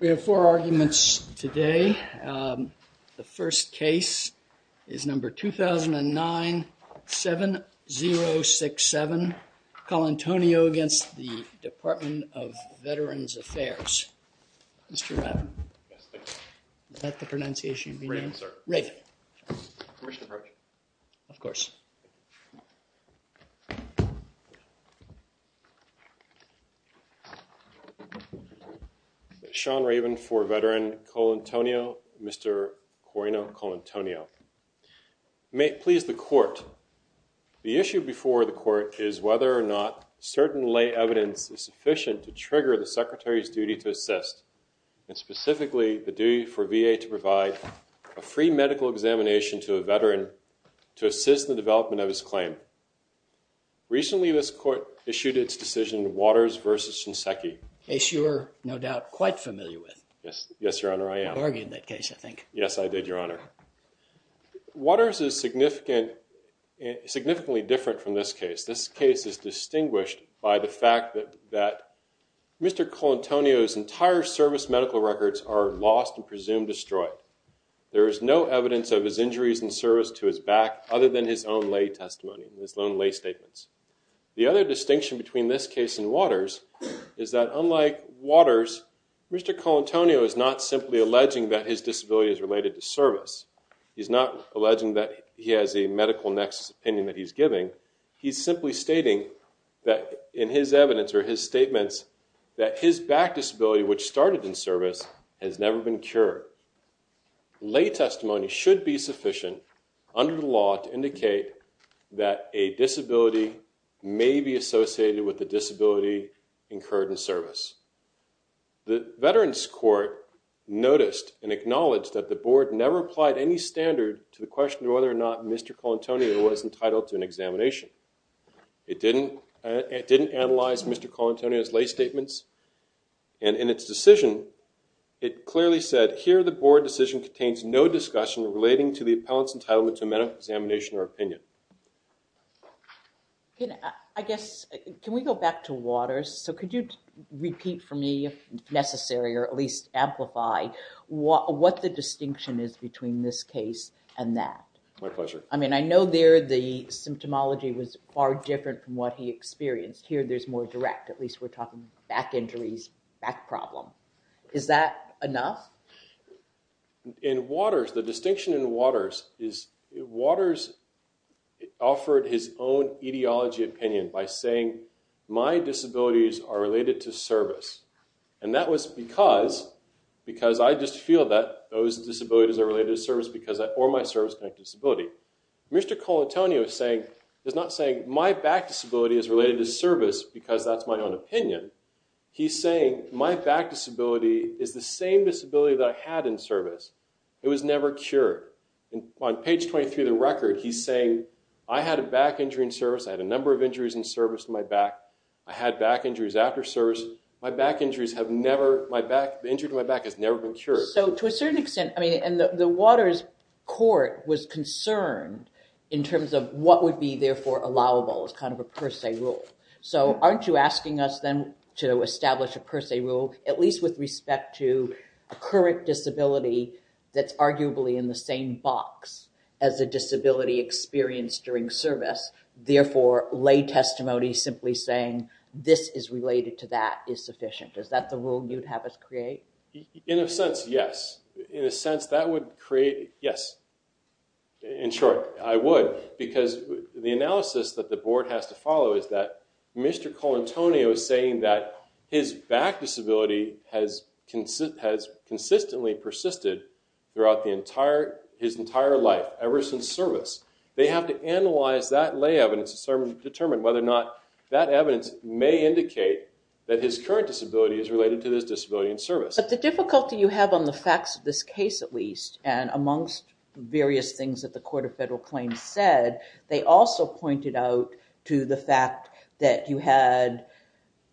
We have four arguments today. The first case is number 2009 7 0 6 7 Colantonio against the Department of Veterans Affairs. Mr. Raven, is that the Sean Raven for veteran Colantonio, Mr. Corino Colantonio. May it please the court, the issue before the court is whether or not certain lay evidence is sufficient to trigger the secretary's duty to assist and specifically the duty for VA to provide a free medical examination to a veteran to assist the development of his claim. Recently this court issued its decision Waters versus Shinseki. Case you're no doubt quite familiar with. Yes, yes your honor I am. You argued that case I think. Yes I did your honor. Waters is significant significantly different from this case. This case is distinguished by the fact that that Mr. Colantonio's entire service medical records are lost and presumed destroyed. There is no evidence of his injuries in service to his back other than his own lay testimony, his own lay statements. The other distinction between this case and Waters is that unlike Waters, Mr. Colantonio is not simply alleging that his disability is related to service. He's not alleging that he has a medical nexus opinion that he's giving. He's simply stating that in his evidence or his statements that his back disability which started in service has never been cured. Lay testimony should be sufficient under the law to with the disability incurred in service. The Veterans Court noticed and acknowledged that the board never applied any standard to the question of whether or not Mr. Colantonio was entitled to an examination. It didn't it didn't analyze Mr. Colantonio's lay statements and in its decision it clearly said here the board decision contains no discussion relating to the Can we go back to Waters? So could you repeat for me if necessary or at least amplify what what the distinction is between this case and that? My pleasure. I mean I know there the symptomology was far different from what he experienced. Here there's more direct, at least we're talking back injuries, back problem. Is that enough? In Waters, the distinction in Waters is Waters offered his own etiology opinion by saying my disabilities are related to service and that was because because I just feel that those disabilities are related to service because I or my service-connected disability. Mr. Colantonio is saying is not saying my back disability is related to service because that's my own opinion. He's saying my back disability is the same disability that I had in service. It was never cured. And on page 23 of the record he's saying I had a back injury in service. I had a number of injuries in service to my back. I had back injuries after service. My back injuries have never, my back, the injury to my back has never been cured. So to a certain extent I mean and the Waters court was concerned in terms of what would be therefore allowable as kind of a per se rule. So aren't you asking us then to establish a per se rule at least with respect to a current disability that's arguably in the same box as a disability experience during service. Therefore lay testimony simply saying this is related to that is sufficient. Is that the rule you'd have us create? In a sense yes. In a sense that would create, yes. In short I would because the analysis that the board has to follow is that Mr. Colantonio is saying that his back disability has consistently persisted throughout the entire, his entire life ever since service. They have to analyze that lay evidence to determine whether or not that evidence may indicate that his current disability is related to this disability in service. But the difficulty you have on the facts of this case at least and amongst various things that the Court of Federal Claims said, they also pointed out to the fact that you had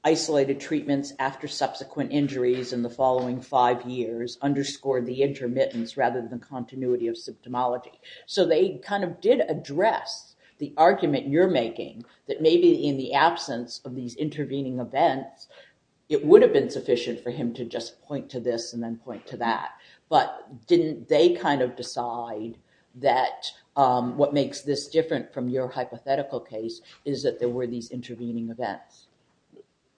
isolated treatments after subsequent injuries in the following five years underscored the intermittence rather than continuity of symptomology. So they kind of did address the argument you're making that maybe in the absence of these intervening events it would have been sufficient for him to just point to this and then point to that. But didn't they kind of decide that what makes this different from your hypothetical case is that there were these intervening events.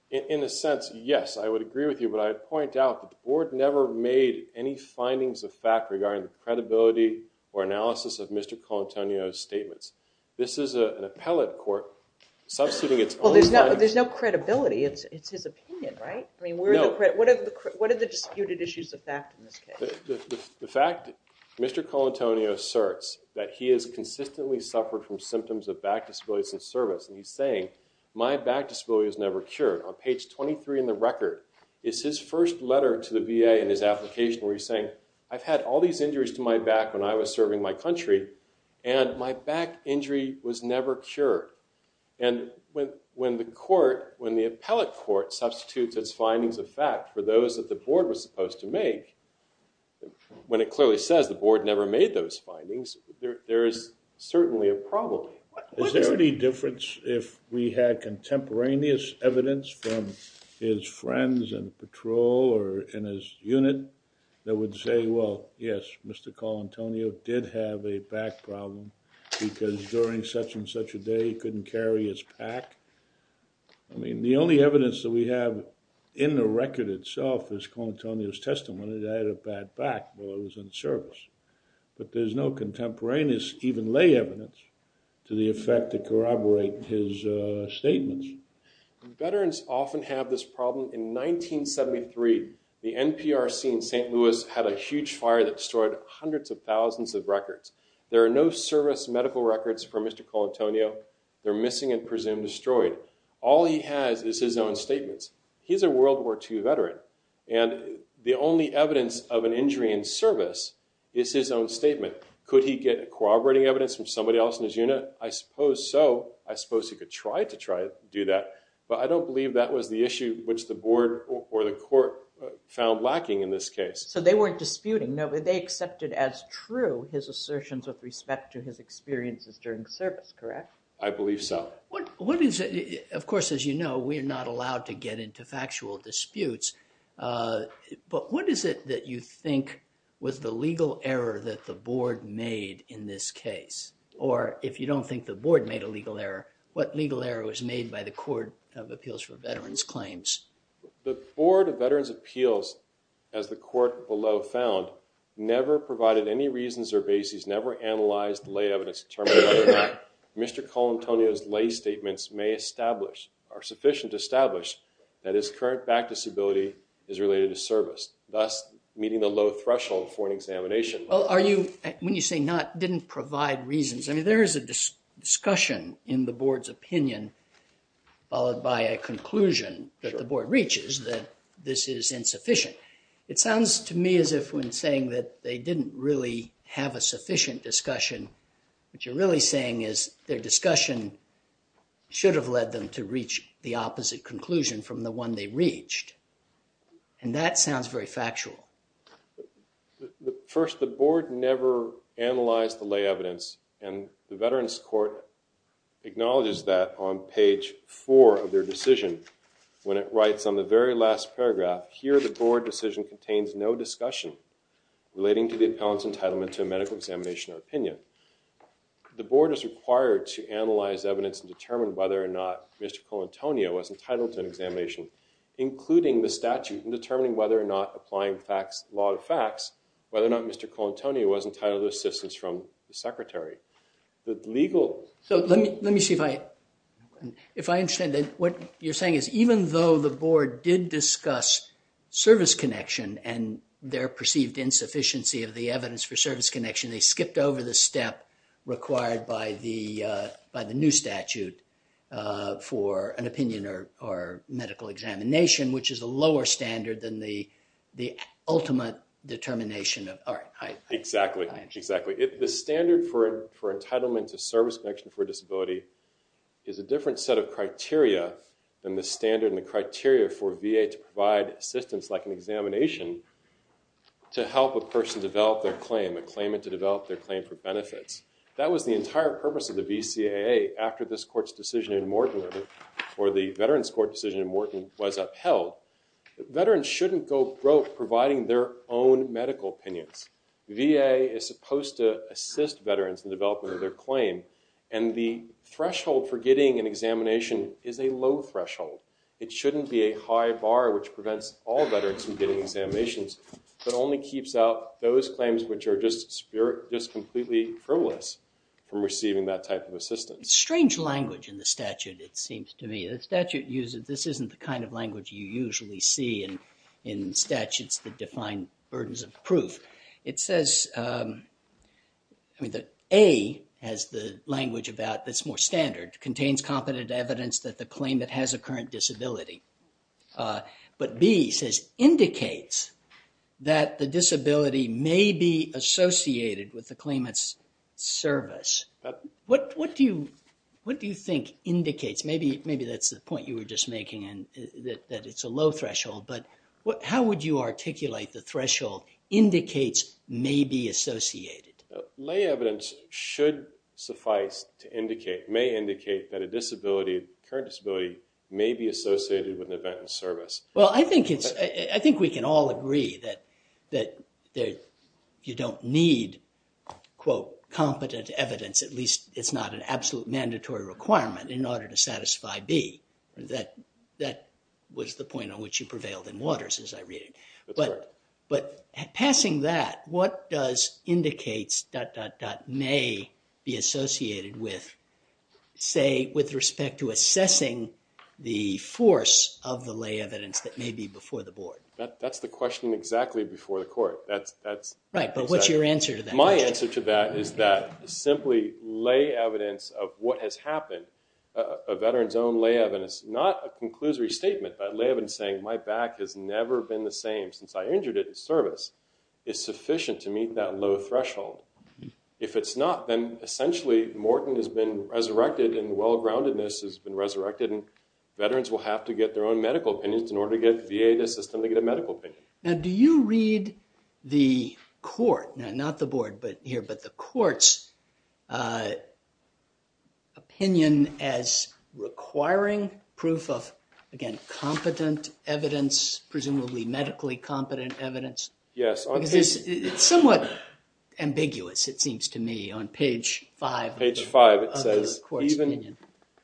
In a sense yes I would agree with you but I'd point out the board never made any findings of fact regarding the credibility or analysis of Mr. Colantonio's statements. This is an appellate court substituting its own time. Well there's no credibility it's his opinion right? I mean what are the disputed issues of fact in this case? The fact that Mr. Colantonio asserts that he has consistently suffered from symptoms of back disabilities in service and he's saying my back disability has never cured. On page 23 in the record is his first letter to the VA in his application where he's saying I've had all these injuries to my back when I was serving my country and my back injury was never cured. And when the court, when the appellate court substitutes its findings of fact for those that the board was supposed to make, when it clearly says the board never made those findings there is certainly a problem. Is there any difference if we had contemporaneous evidence from his that would say well yes Mr. Colantonio did have a back problem because during such-and-such a day he couldn't carry his pack. I mean the only evidence that we have in the record itself is Colantonio's testimony that he had a bad back while he was in service. But there's no contemporaneous even lay evidence to the effect that corroborate his statements. Veterans often have this problem. In 1973 the NPRC in St. Louis had a huge fire that destroyed hundreds of thousands of records. There are no service medical records for Mr. Colantonio. They're missing and presumed destroyed. All he has is his own statements. He's a World War II veteran and the only evidence of an injury in service is his own statement. Could he get corroborating evidence from somebody else in his unit? I suppose so. I suppose he could try to do that. But I don't believe that was the issue which the board or the court found lacking in this case. So they weren't disputing. They accepted as true his assertions with respect to his experiences during service, correct? I believe so. What is it, of course as you know we're not allowed to get into factual disputes, but what is it that you think was the legal error that the board made in this case? Or if you don't think the board made a legal error, what legal error was made by the Court of Appeals for Veterans Claims? The Board of Veterans Appeals, as the court below found, never provided any reasons or bases, never analyzed lay evidence to determine whether or not Mr. Colantonio's lay statements may establish, are sufficient to establish, that his current back disability is related to service, thus meeting the low threshold for an examination. Well are you, when you say not, didn't provide reasons, I mean there is a discussion in the board's opinion followed by a conclusion that the board reaches that this is insufficient. It sounds to me as if when saying that they didn't really have a sufficient discussion, what you're really saying is their discussion should have led them to reach the opposite conclusion from the one they reached, and that sounds very factual. First, the board never analyzed the lay evidence, and the Veterans Court acknowledges that on page four of their decision, when it writes on the very last paragraph, here the board decision contains no discussion relating to the appellant's entitlement to a medical examination or opinion. The board is required to analyze evidence and determine whether or not Mr. Colantonio was entitled to an examination, including the statute in determining whether or not applying facts, law to facts, whether or not Mr. Colantonio was entitled to assistance from the secretary. The legal... So let me see if I, if I understand that what you're saying is even though the board did discuss service connection and their perceived insufficiency of the evidence for service connection, they skipped over the step required by the by the new statute for an opinion or medical examination, which is a lower standard than the the ultimate determination of... Exactly, exactly. The standard for entitlement to service connection for disability is a different set of criteria than the standard and the criteria for VA to provide assistance like an examination to help a person develop their claim, a claimant to develop their claim for benefits. That was the entire purpose of the BCAA after this court's decision in Morton or the Veterans shouldn't go broke providing their own medical opinions. VA is supposed to assist veterans in development of their claim and the threshold for getting an examination is a low threshold. It shouldn't be a high bar which prevents all veterans from getting examinations, but only keeps out those claims which are just completely frivolous from receiving that type of assistance. Strange language in the statute it seems to me. The statute this isn't the kind of language you usually see in in statutes that define burdens of proof. It says, I mean, that A has the language about this more standard, contains competent evidence that the claimant has a current disability, but B says indicates that the disability may be associated with the claimant's service. What do you think indicates, maybe that's the point you were just making and that it's a low threshold, but what how would you articulate the threshold indicates may be associated? Lay evidence should suffice to indicate, may indicate, that a disability, current disability may be associated with an event in service. Well I think it's, I think we can all agree that that you don't need quote competent evidence, at least it's not an I.B. That was the point on which you prevailed in waters as I read it, but passing that, what does indicates dot dot dot may be associated with, say, with respect to assessing the force of the lay evidence that may be before the board? That's the question exactly before the court. Right, but what's your answer to that? My answer to that is that simply lay evidence of what has lay evidence, not a conclusory statement, but lay evidence saying my back has never been the same since I injured it in service, is sufficient to meet that low threshold. If it's not, then essentially Morton has been resurrected and well groundedness has been resurrected and veterans will have to get their own medical opinions in order to get VA to assist them to get a medical opinion. Now do you read the court, now not the board, but here, but the courts opinion as requiring proof of, again, competent evidence, presumably medically competent evidence? Yes. It's somewhat ambiguous it seems to me on page five. Page five it says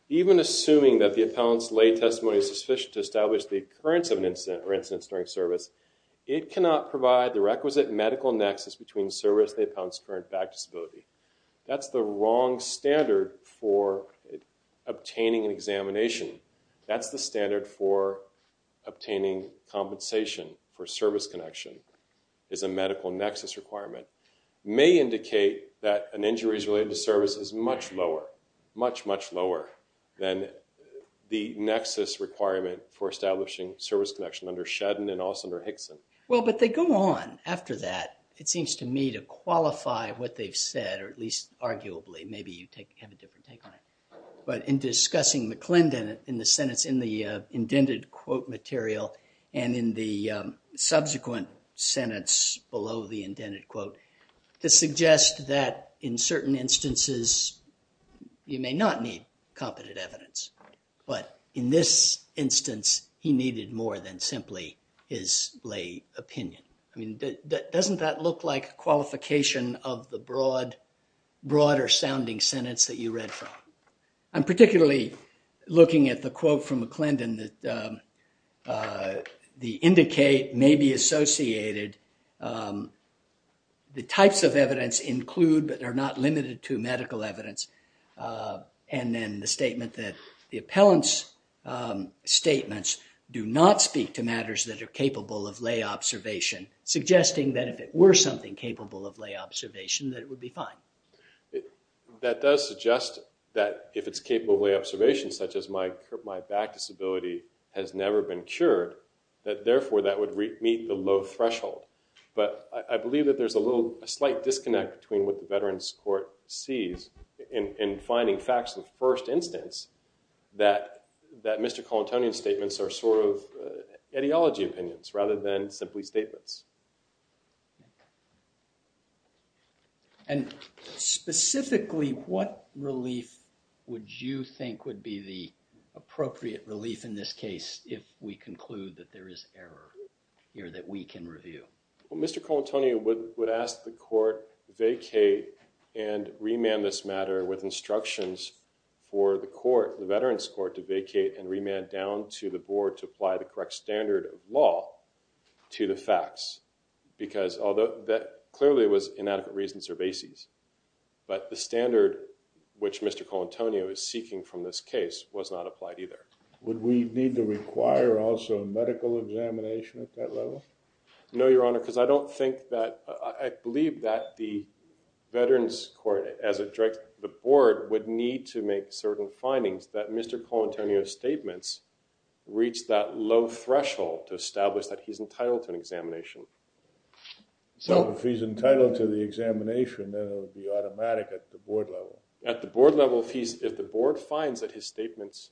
even assuming that the appellant's lay testimony is sufficient to establish the occurrence of an incident or incidents during service, it cannot provide the requisite medical nexus between service and the appellant's current back disability. That's the wrong standard for obtaining an examination. That's the standard for obtaining compensation for service connection is a medical nexus requirement. May indicate that an injury is related to service is much lower, much much lower than the nexus requirement for establishing service connection under Shedden and also under Hickson. Well, but they go on after that. It seems to me to qualify what they've said or at least arguably maybe you take a different take on it, but in discussing McClendon in the sentence in the indented quote material and in the subsequent sentence below the indented quote to suggest that in certain instances you may not need competent evidence, but in this instance he needed more than simply his lay opinion. I mean that doesn't that look like qualification of the broad broader sounding sentence that you read from. I'm particularly looking at the quote from McClendon that the indicate may be associated. The types of evidence include but are not limited to medical evidence and then the statement that the appellant's statements do not speak to matters that are capable of lay observation, suggesting that if it were something capable of lay observation that it would be fine. That does suggest that if it's capable of lay observation such as my back disability has never been cured that therefore that would meet the low threshold, but I believe that there's a little a slight disconnect between what the Veterans Court sees in finding facts in the first instance that that Mr. Colantonian's statements are sort of ideology opinions rather than simply statements. And specifically what relief would you think would be the appropriate relief in this case if we conclude that there is error here that we can review? Well Mr. Colantonian would ask the court vacate and remand this matter with instructions for the court the Veterans Court to vacate and remand down to the to the facts because although that clearly was inadequate reasons or bases but the standard which Mr. Colantonian is seeking from this case was not applied either. Would we need to require also medical examination at that level? No your honor because I don't think that I believe that the Veterans Court as it directs the board would need to make certain findings that Mr. Colantonian's reached that low threshold to establish that he's entitled to an examination. So if he's entitled to the examination then it would be automatic at the board level? At the board level if he's if the board finds that his statements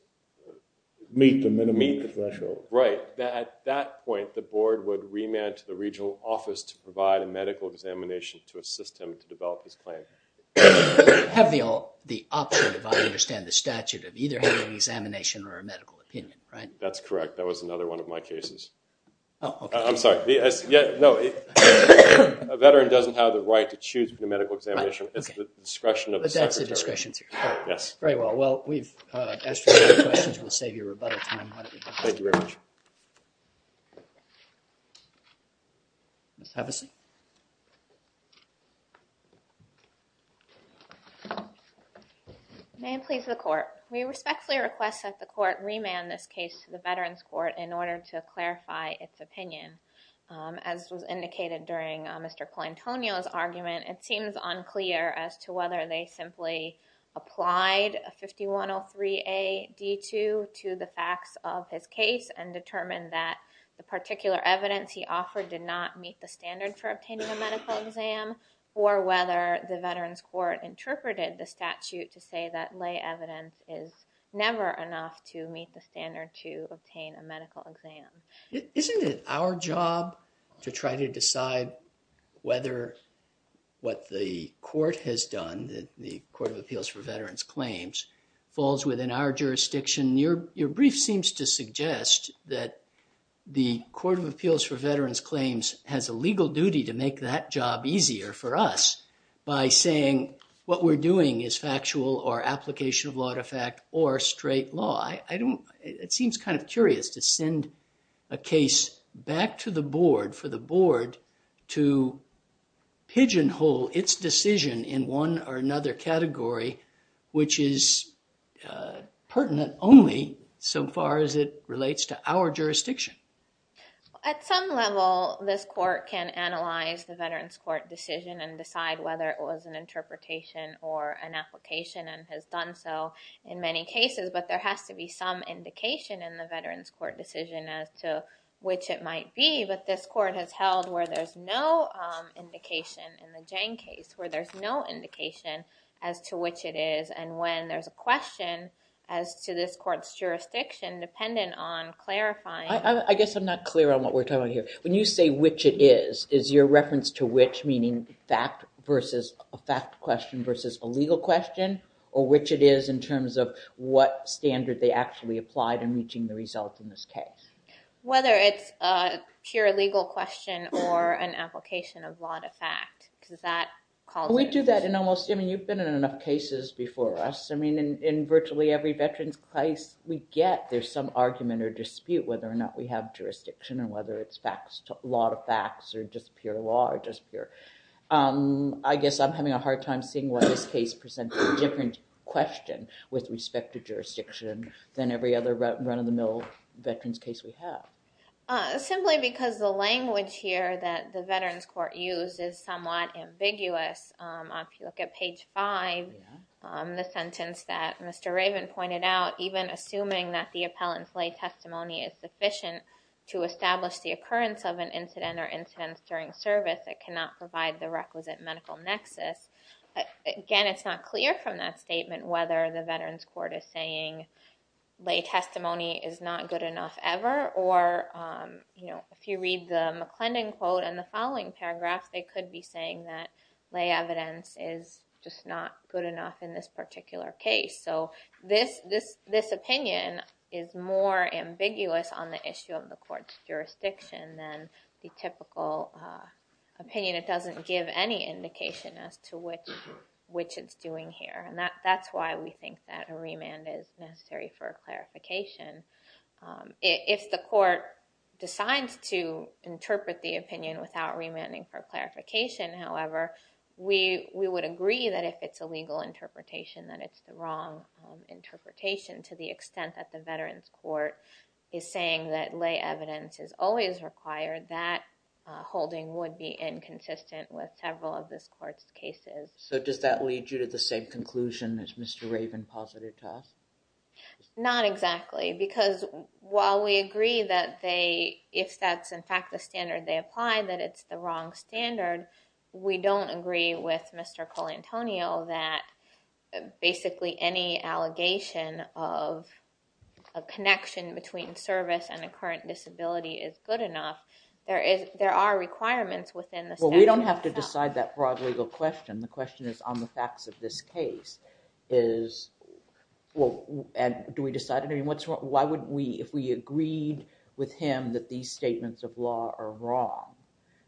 meet the minimum threshold. Right at that point the board would remand to the regional office to provide a medical examination to assist him to develop his claim. Have the option if I understand the statute of either having examination or a remand. That's correct that was another one of my cases. I'm sorry yes no a veteran doesn't have the right to choose the medical examination it's the discretion of the secretary. Very well well we've asked your questions we'll save you a rebuttal time. Thank you very much. Ms. Hevesi. May it please the court. We respectfully request that the court remand this case to the Veterans Court in order to clarify its opinion. As was indicated during Mr. Colantonio's argument it seems unclear as to whether they simply applied a 5103A D2 to the facts of his case and determined that the particular evidence he offered did not meet the standard for obtaining a medical exam or whether the Veterans Court interpreted the statute to say that lay evidence is never enough to meet the standard to obtain a medical Isn't it our job to try to decide whether what the court has done that the Court of Appeals for Veterans Claims falls within our jurisdiction? Your brief seems to suggest that the Court of Appeals for Veterans Claims has a legal duty to make that job easier for us by saying what we're doing is factual or application of law to fact or straight law. I don't it seems kind of curious to send a case back to the board for the board to pigeonhole its decision in one or another category which is pertinent only so far as it relates to our jurisdiction. At some level this court can analyze the Veterans Court decision and decide whether it was an interpretation or an application and has done so in many cases but there has to be some indication in the Veterans Court decision as to which it might be but this court has held where there's no indication in the Jang case where there's no indication as to which it is and when there's a question as to this court's jurisdiction dependent on clarifying. I guess I'm not clear on what we're talking about here. When you say which it is, is your reference to which meaning fact versus a fact question versus a legal question or which it is in terms of what standard they actually applied in reaching the result in this case? Whether it's a pure legal question or an application of law to fact. We do that in almost I mean you've been in enough cases before us I mean in virtually every veterans case we get there's some argument or dispute whether or not we have jurisdiction or whether it's facts to a lot of facts or just pure law or just pure. I guess I'm having a hard time seeing what this case presents a different question with respect to jurisdiction than every other run-of-the-mill veterans case we have. Simply because the language here that the Veterans Court uses somewhat ambiguous. If you look at page 5 the sentence that Mr. Raven pointed out even assuming that the appellant's lay testimony is sufficient to establish the occurrence of an incident or incidents during service that cannot provide the requisite medical nexus. Again it's not clear from that statement whether the court is saying lay testimony is not good enough ever or you know if you read the McClendon quote and the following paragraph they could be saying that lay evidence is just not good enough in this particular case. So this this this opinion is more ambiguous on the issue of the court's jurisdiction than the typical opinion. It doesn't give any indication as to which which it's doing here and that that's why we think that a remand is necessary for clarification. If the court decides to interpret the opinion without remanding for clarification however we we would agree that if it's a legal interpretation that it's the wrong interpretation to the extent that the Veterans Court is saying that lay evidence is always required that holding would be inconsistent with does that lead you to the same conclusion as Mr. Raven posited to us? Not exactly because while we agree that they if that's in fact the standard they apply that it's the wrong standard we don't agree with Mr. Colantonio that basically any allegation of a connection between service and the current disability is good enough there is there are requirements within this well we on the facts of this case is well and do we decide I mean what's wrong why would we if we agreed with him that these statements of law are wrong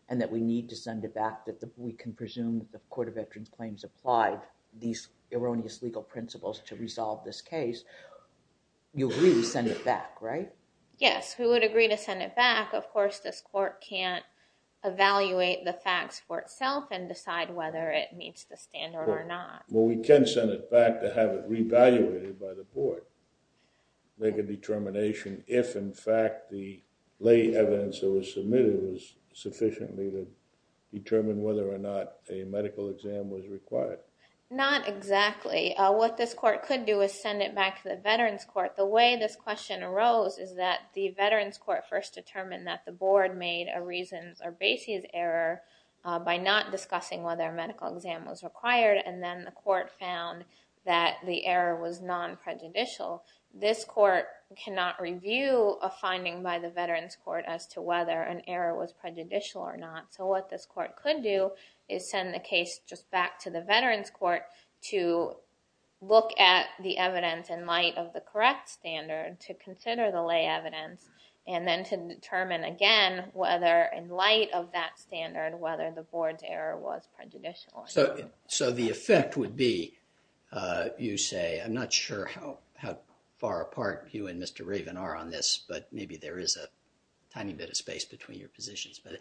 and that we need to send it back that the we can presume the Court of Veterans claims applied these erroneous legal principles to resolve this case you really send it back right? Yes we would agree to send it back of course this court can't evaluate the facts for itself and decide whether it meets the standard or not. Well we can send it back to have it re-evaluated by the board make a determination if in fact the lay evidence that was submitted was sufficiently to determine whether or not a medical exam was required. Not exactly what this court could do is send it back to the Veterans Court the way this question arose is that the Veterans Court first determined that the board made a reasons or basis error by not discussing whether a medical exam was required and then the court found that the error was non-prejudicial this court cannot review a finding by the Veterans Court as to whether an error was prejudicial or not so what this court could do is send the case just back to the Veterans Court to look at the evidence in light of the correct standard to consider the lay evidence and then to determine again whether in So the effect would be you say I'm not sure how far apart you and Mr. Raven are on this but maybe there is a tiny bit of space between your positions but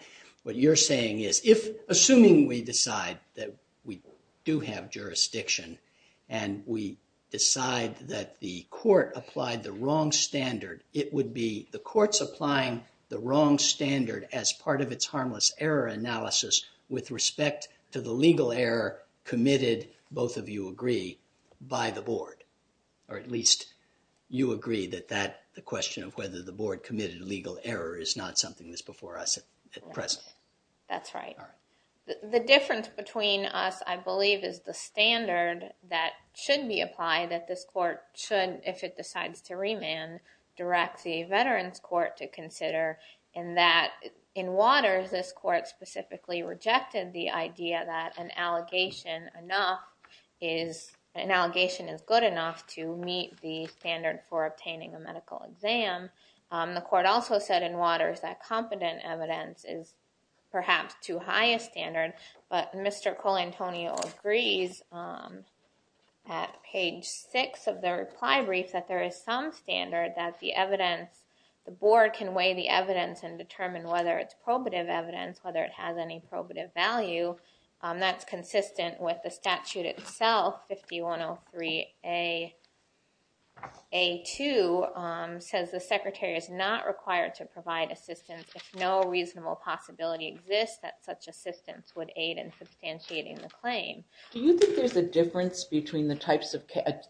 what you're saying is if assuming we decide that we do have jurisdiction and we decide that the court applied the wrong standard it would be the courts applying the wrong standard as part of its harmless error analysis with respect to the legal error committed both of you agree by the board or at least you agree that that the question of whether the board committed a legal error is not something that's before us at present. That's right. The difference between us I believe is the standard that should be applied that this court should if it consider and that in Waters this court specifically rejected the idea that an allegation enough is an allegation is good enough to meet the standard for obtaining a medical exam. The court also said in Waters that competent evidence is perhaps too high a standard but Mr. Colantonio agrees at page six of the determine whether it's probative evidence whether it has any probative value that's consistent with the statute itself 5103 a a2 says the secretary is not required to provide assistance if no reasonable possibility exists that such assistance would aid in substantiating the claim. Do you think there's a difference between the types of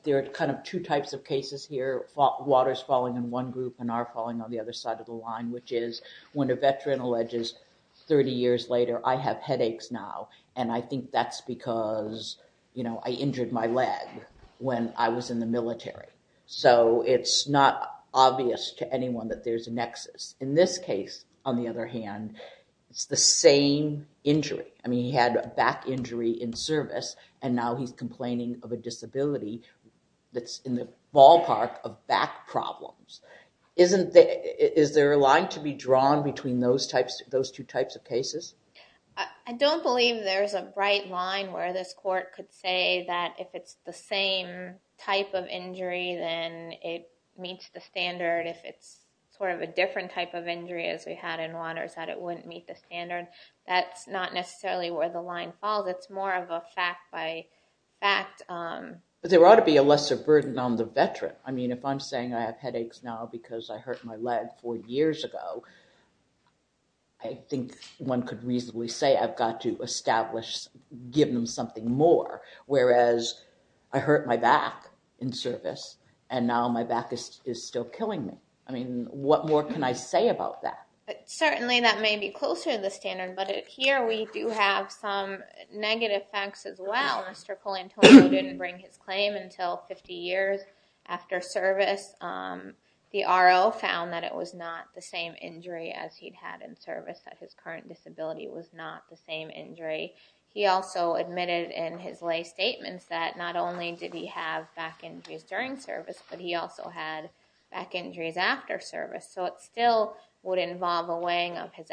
there are kind of two types of cases here Waters falling in one group and are falling on the other side of the line which is when a veteran alleges 30 years later I have headaches now and I think that's because you know I injured my leg when I was in the military so it's not obvious to anyone that there's a nexus. In this case on the other hand it's the same injury I mean he had a back injury in service and now he's complaining of a back problems isn't there is there a line to be drawn between those types those two types of cases? I don't believe there's a bright line where this court could say that if it's the same type of injury then it meets the standard if it's sort of a different type of injury as we had in Waters that it wouldn't meet the standard that's not necessarily where the line falls it's more of a fact by fact. But there ought to be a lesser burden on the veteran I mean if I'm saying I have headaches now because I hurt my leg four years ago I think one could reasonably say I've got to establish giving them something more whereas I hurt my back in service and now my back is still killing me I mean what more can I say about that? But certainly that may be closer to the facts as well Mr. Colantoni didn't bring his claim until 50 years after service the RO found that it was not the same injury as he'd had in service that his current disability was not the same injury he also admitted in his lay statements that not only did he have back injuries during service but he also had back injuries after service so it still would involve a weighing of his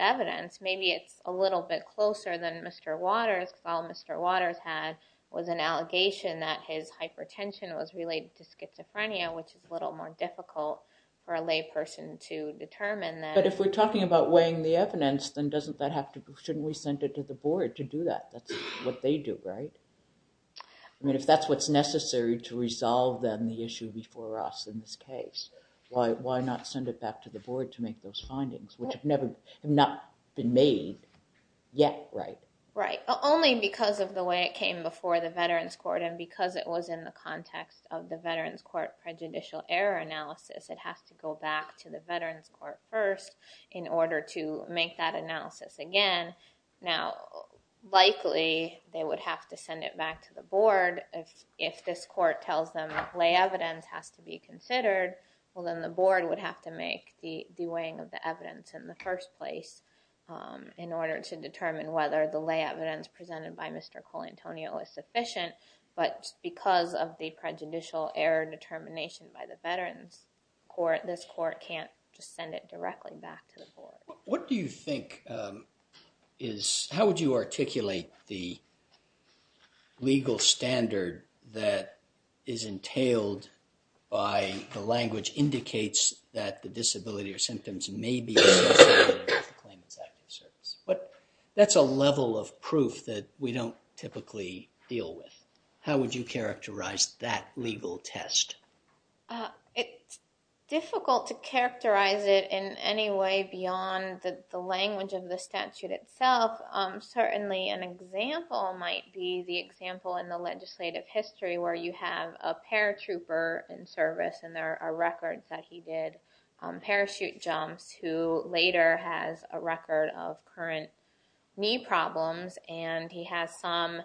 had was an allegation that his hypertension was related to schizophrenia which is a little more difficult for a lay person to determine that. But if we're talking about weighing the evidence then doesn't that have to shouldn't we send it to the board to do that that's what they do right? I mean if that's what's necessary to resolve then the issue before us in this case why not send it back to the board to make those findings which have never not been made yet right? Right only because of the way it came before the Veterans Court and because it was in the context of the Veterans Court prejudicial error analysis it has to go back to the Veterans Court first in order to make that analysis again now likely they would have to send it back to the board if if this court tells them lay evidence has to be considered well then the board would have to make the weighing of the evidence in the first place in order to determine whether the lay evidence presented by Mr. Colantonio is sufficient but because of the prejudicial error determination by the Veterans Court this court can't just send it directly back to the board. What do you think is how would you articulate the legal standard that is entailed by language indicates that the disability or symptoms may be but that's a level of proof that we don't typically deal with how would you characterize that legal test? It's difficult to characterize it in any way beyond the language of the statute itself certainly an example might be the example in the legislative history where you have a paratrooper in service and there are records that he did parachute jumps who later has a record of current knee problems and he has some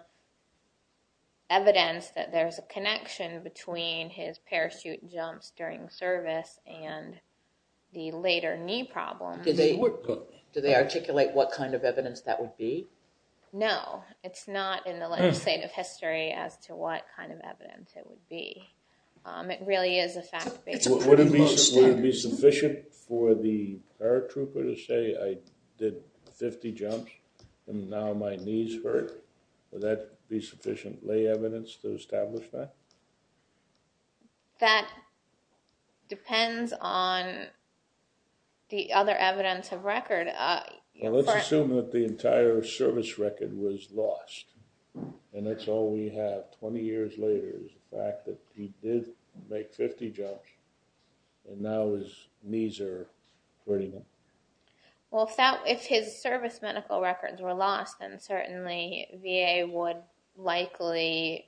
evidence that there's a connection between his parachute jumps during service and the later knee problem. Do they articulate what kind of evidence that would be? No it's not in the legislative history as to what kind of evidence it would be. It really is a fact based. Would it be sufficient for the paratrooper to say I did 50 jumps and now my knees hurt? Would that be sufficient lay evidence to establish that? That depends on the other evidence of record. Well let's assume that the entire service record was lost and that's all we have 20 years later is the fact that he did make 50 jumps and now his knees are hurting him. Well if his service medical records were lost then certainly VA would likely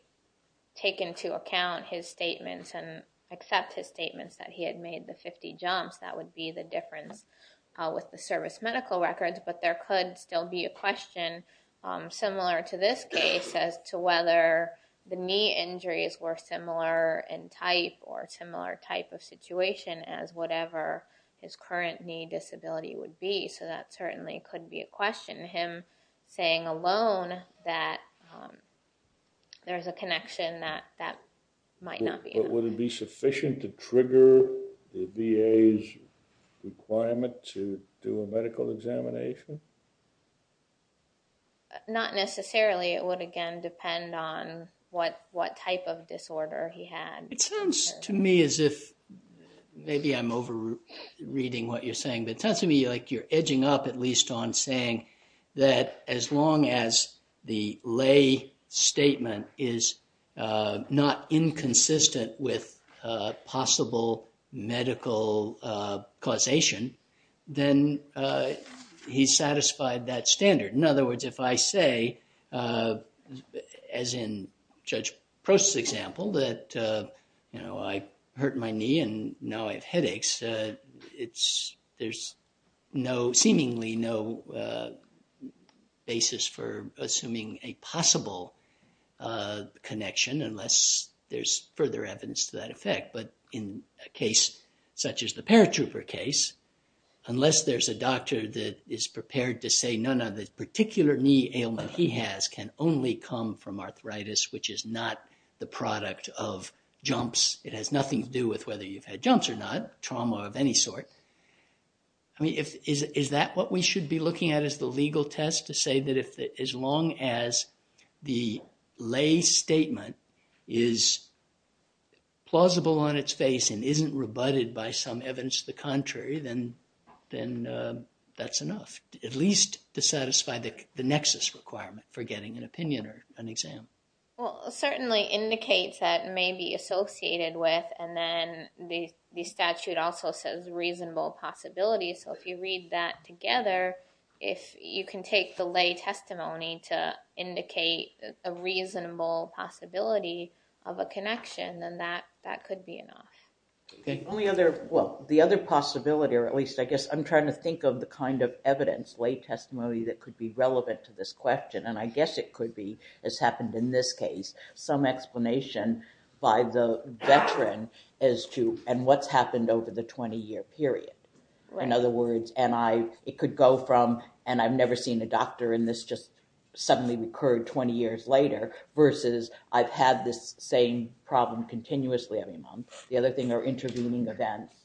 take into account his statements and accept his statements that he had made the 50 jumps that would be the difference with the service medical records but there could still be a question similar to this case as to whether the knee injuries were similar in type or similar type of situation as whatever his current knee disability would be so that certainly could be a question him saying alone that there's a connection that that might not be. Would it be sufficient to not necessarily it would again depend on what what type of disorder he had. It sounds to me as if maybe I'm over reading what you're saying but it sounds to me like you're edging up at least on saying that as long as the lay statement is not inconsistent with possible medical causation then he's satisfied that standard. In other words if I say as in Judge Prost's example that you know I hurt my knee and now I have headaches it's there's no seemingly no basis for connection unless there's further evidence to that effect but in a case such as the paratrooper case unless there's a doctor that is prepared to say none of the particular knee ailment he has can only come from arthritis which is not the product of jumps it has nothing to do with whether you've had jumps or not trauma of any sort. I mean if is that what we should be looking at the legal test to say that if as long as the lay statement is plausible on its face and isn't rebutted by some evidence to the contrary then then that's enough at least to satisfy the the nexus requirement for getting an opinion or an exam. Well certainly indicates that may be associated with and then the statute also says reasonable possibility so if you read that together if you can take the lay testimony to indicate a reasonable possibility of a connection then that that could be enough. Okay only other well the other possibility or at least I guess I'm trying to think of the kind of evidence lay testimony that could be relevant to this question and I guess it could be as happened in this case some explanation by the veteran as to and what's happened over the 20-year period. In other words and I it could go from and I've never seen a doctor in this just suddenly recurred 20 years later versus I've had this same problem continuously every month. The other thing are intervening events.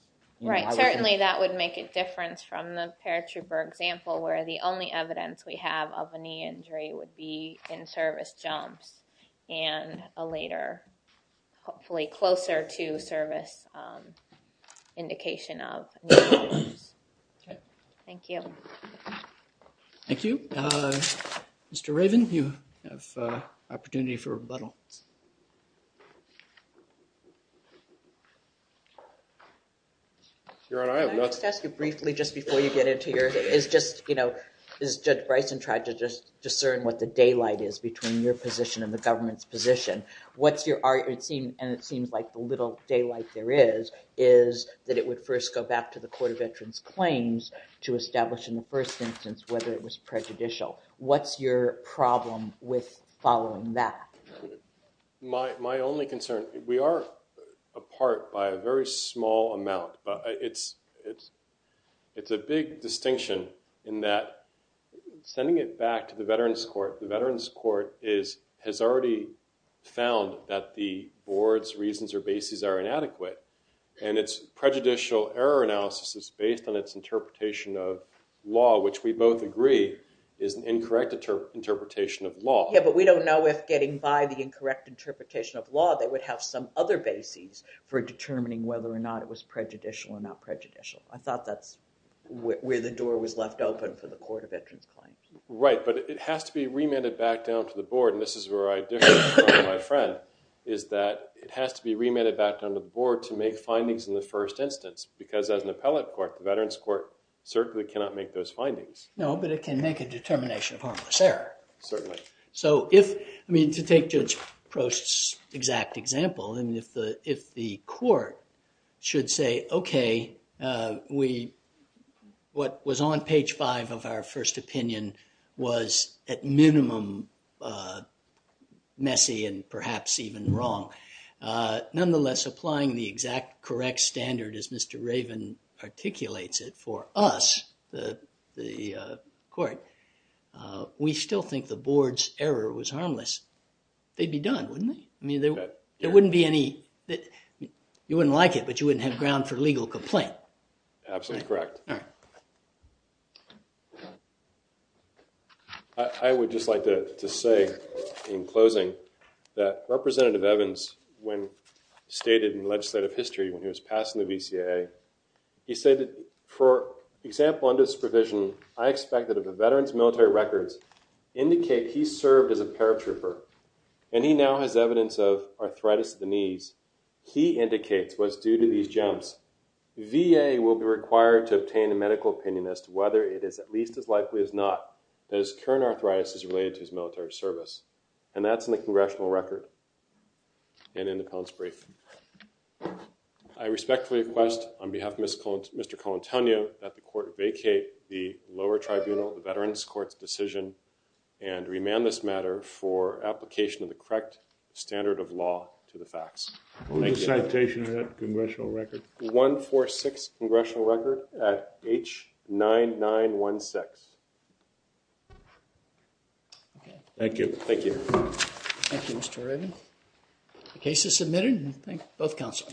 Right certainly that would make a difference from the paratrooper example where the only evidence we have of a knee injury would be in service jumps and a later hopefully closer to service indication of. Thank you. Thank you. Mr. Raven you have opportunity for rebuttal. Briefly just before you get into your is just you know is Judge Bryson tried to discern what the daylight is between your position and the government's position. What's your art it seemed and it seems like the little daylight there is is that it would first go back to the Court of Entrants claims to establish in the first instance whether it was prejudicial. What's your problem with following that? My only concern we are apart by a very small amount but it's it's a big distinction in that sending it back to the Veterans Court. The Veterans Court is has already found that the board's reasons or bases are inadequate and it's prejudicial error analysis is based on its interpretation of law which we both agree is an incorrect interpretation of law. Yeah but we don't know if getting by the incorrect interpretation of law they would have some other bases for determining whether or not it was prejudicial or not prejudicial. I thought that's where the door was left open for the Court of Entrants claims. Right but it has to be remitted back down to the board and this is where I differ from my friend is that it has to be remitted back down to the board to make findings in the first instance because as an appellate court the Veterans Court certainly cannot make those findings. No but it can make a determination of harmless error. Certainly. So if I mean to take Judge Prost's exact example and if the if the court should say okay we what was on page 5 of our first opinion was at minimum messy and perhaps even wrong nonetheless applying the exact correct standard as Mr. Raven articulates it for us the court we still think the board's error was harmless. They'd be done wouldn't they? I mean there wouldn't be any that you wouldn't like it but you wouldn't have ground for legal complaint. Absolutely correct. All right. I would just like to say in closing that Representative Evans when stated in example under supervision I expect that if a veteran's military records indicate he served as a paratrooper and he now has evidence of arthritis of the knees he indicates was due to these jumps VA will be required to obtain a medical opinion as to whether it is at least as likely as not as current arthritis is related to his military service and that's in the congressional record and in the appellant's brief. I respectfully request on behalf of Mr. Colantonio that the court vacate the lower tribunal the Veterans Courts decision and remand this matter for application of the correct standard of law to the facts. What was the citation of that congressional record? 146 congressional record at H9916. Thank you. Thank you. Thank you Mr. Raven. The case is submitted both counsel.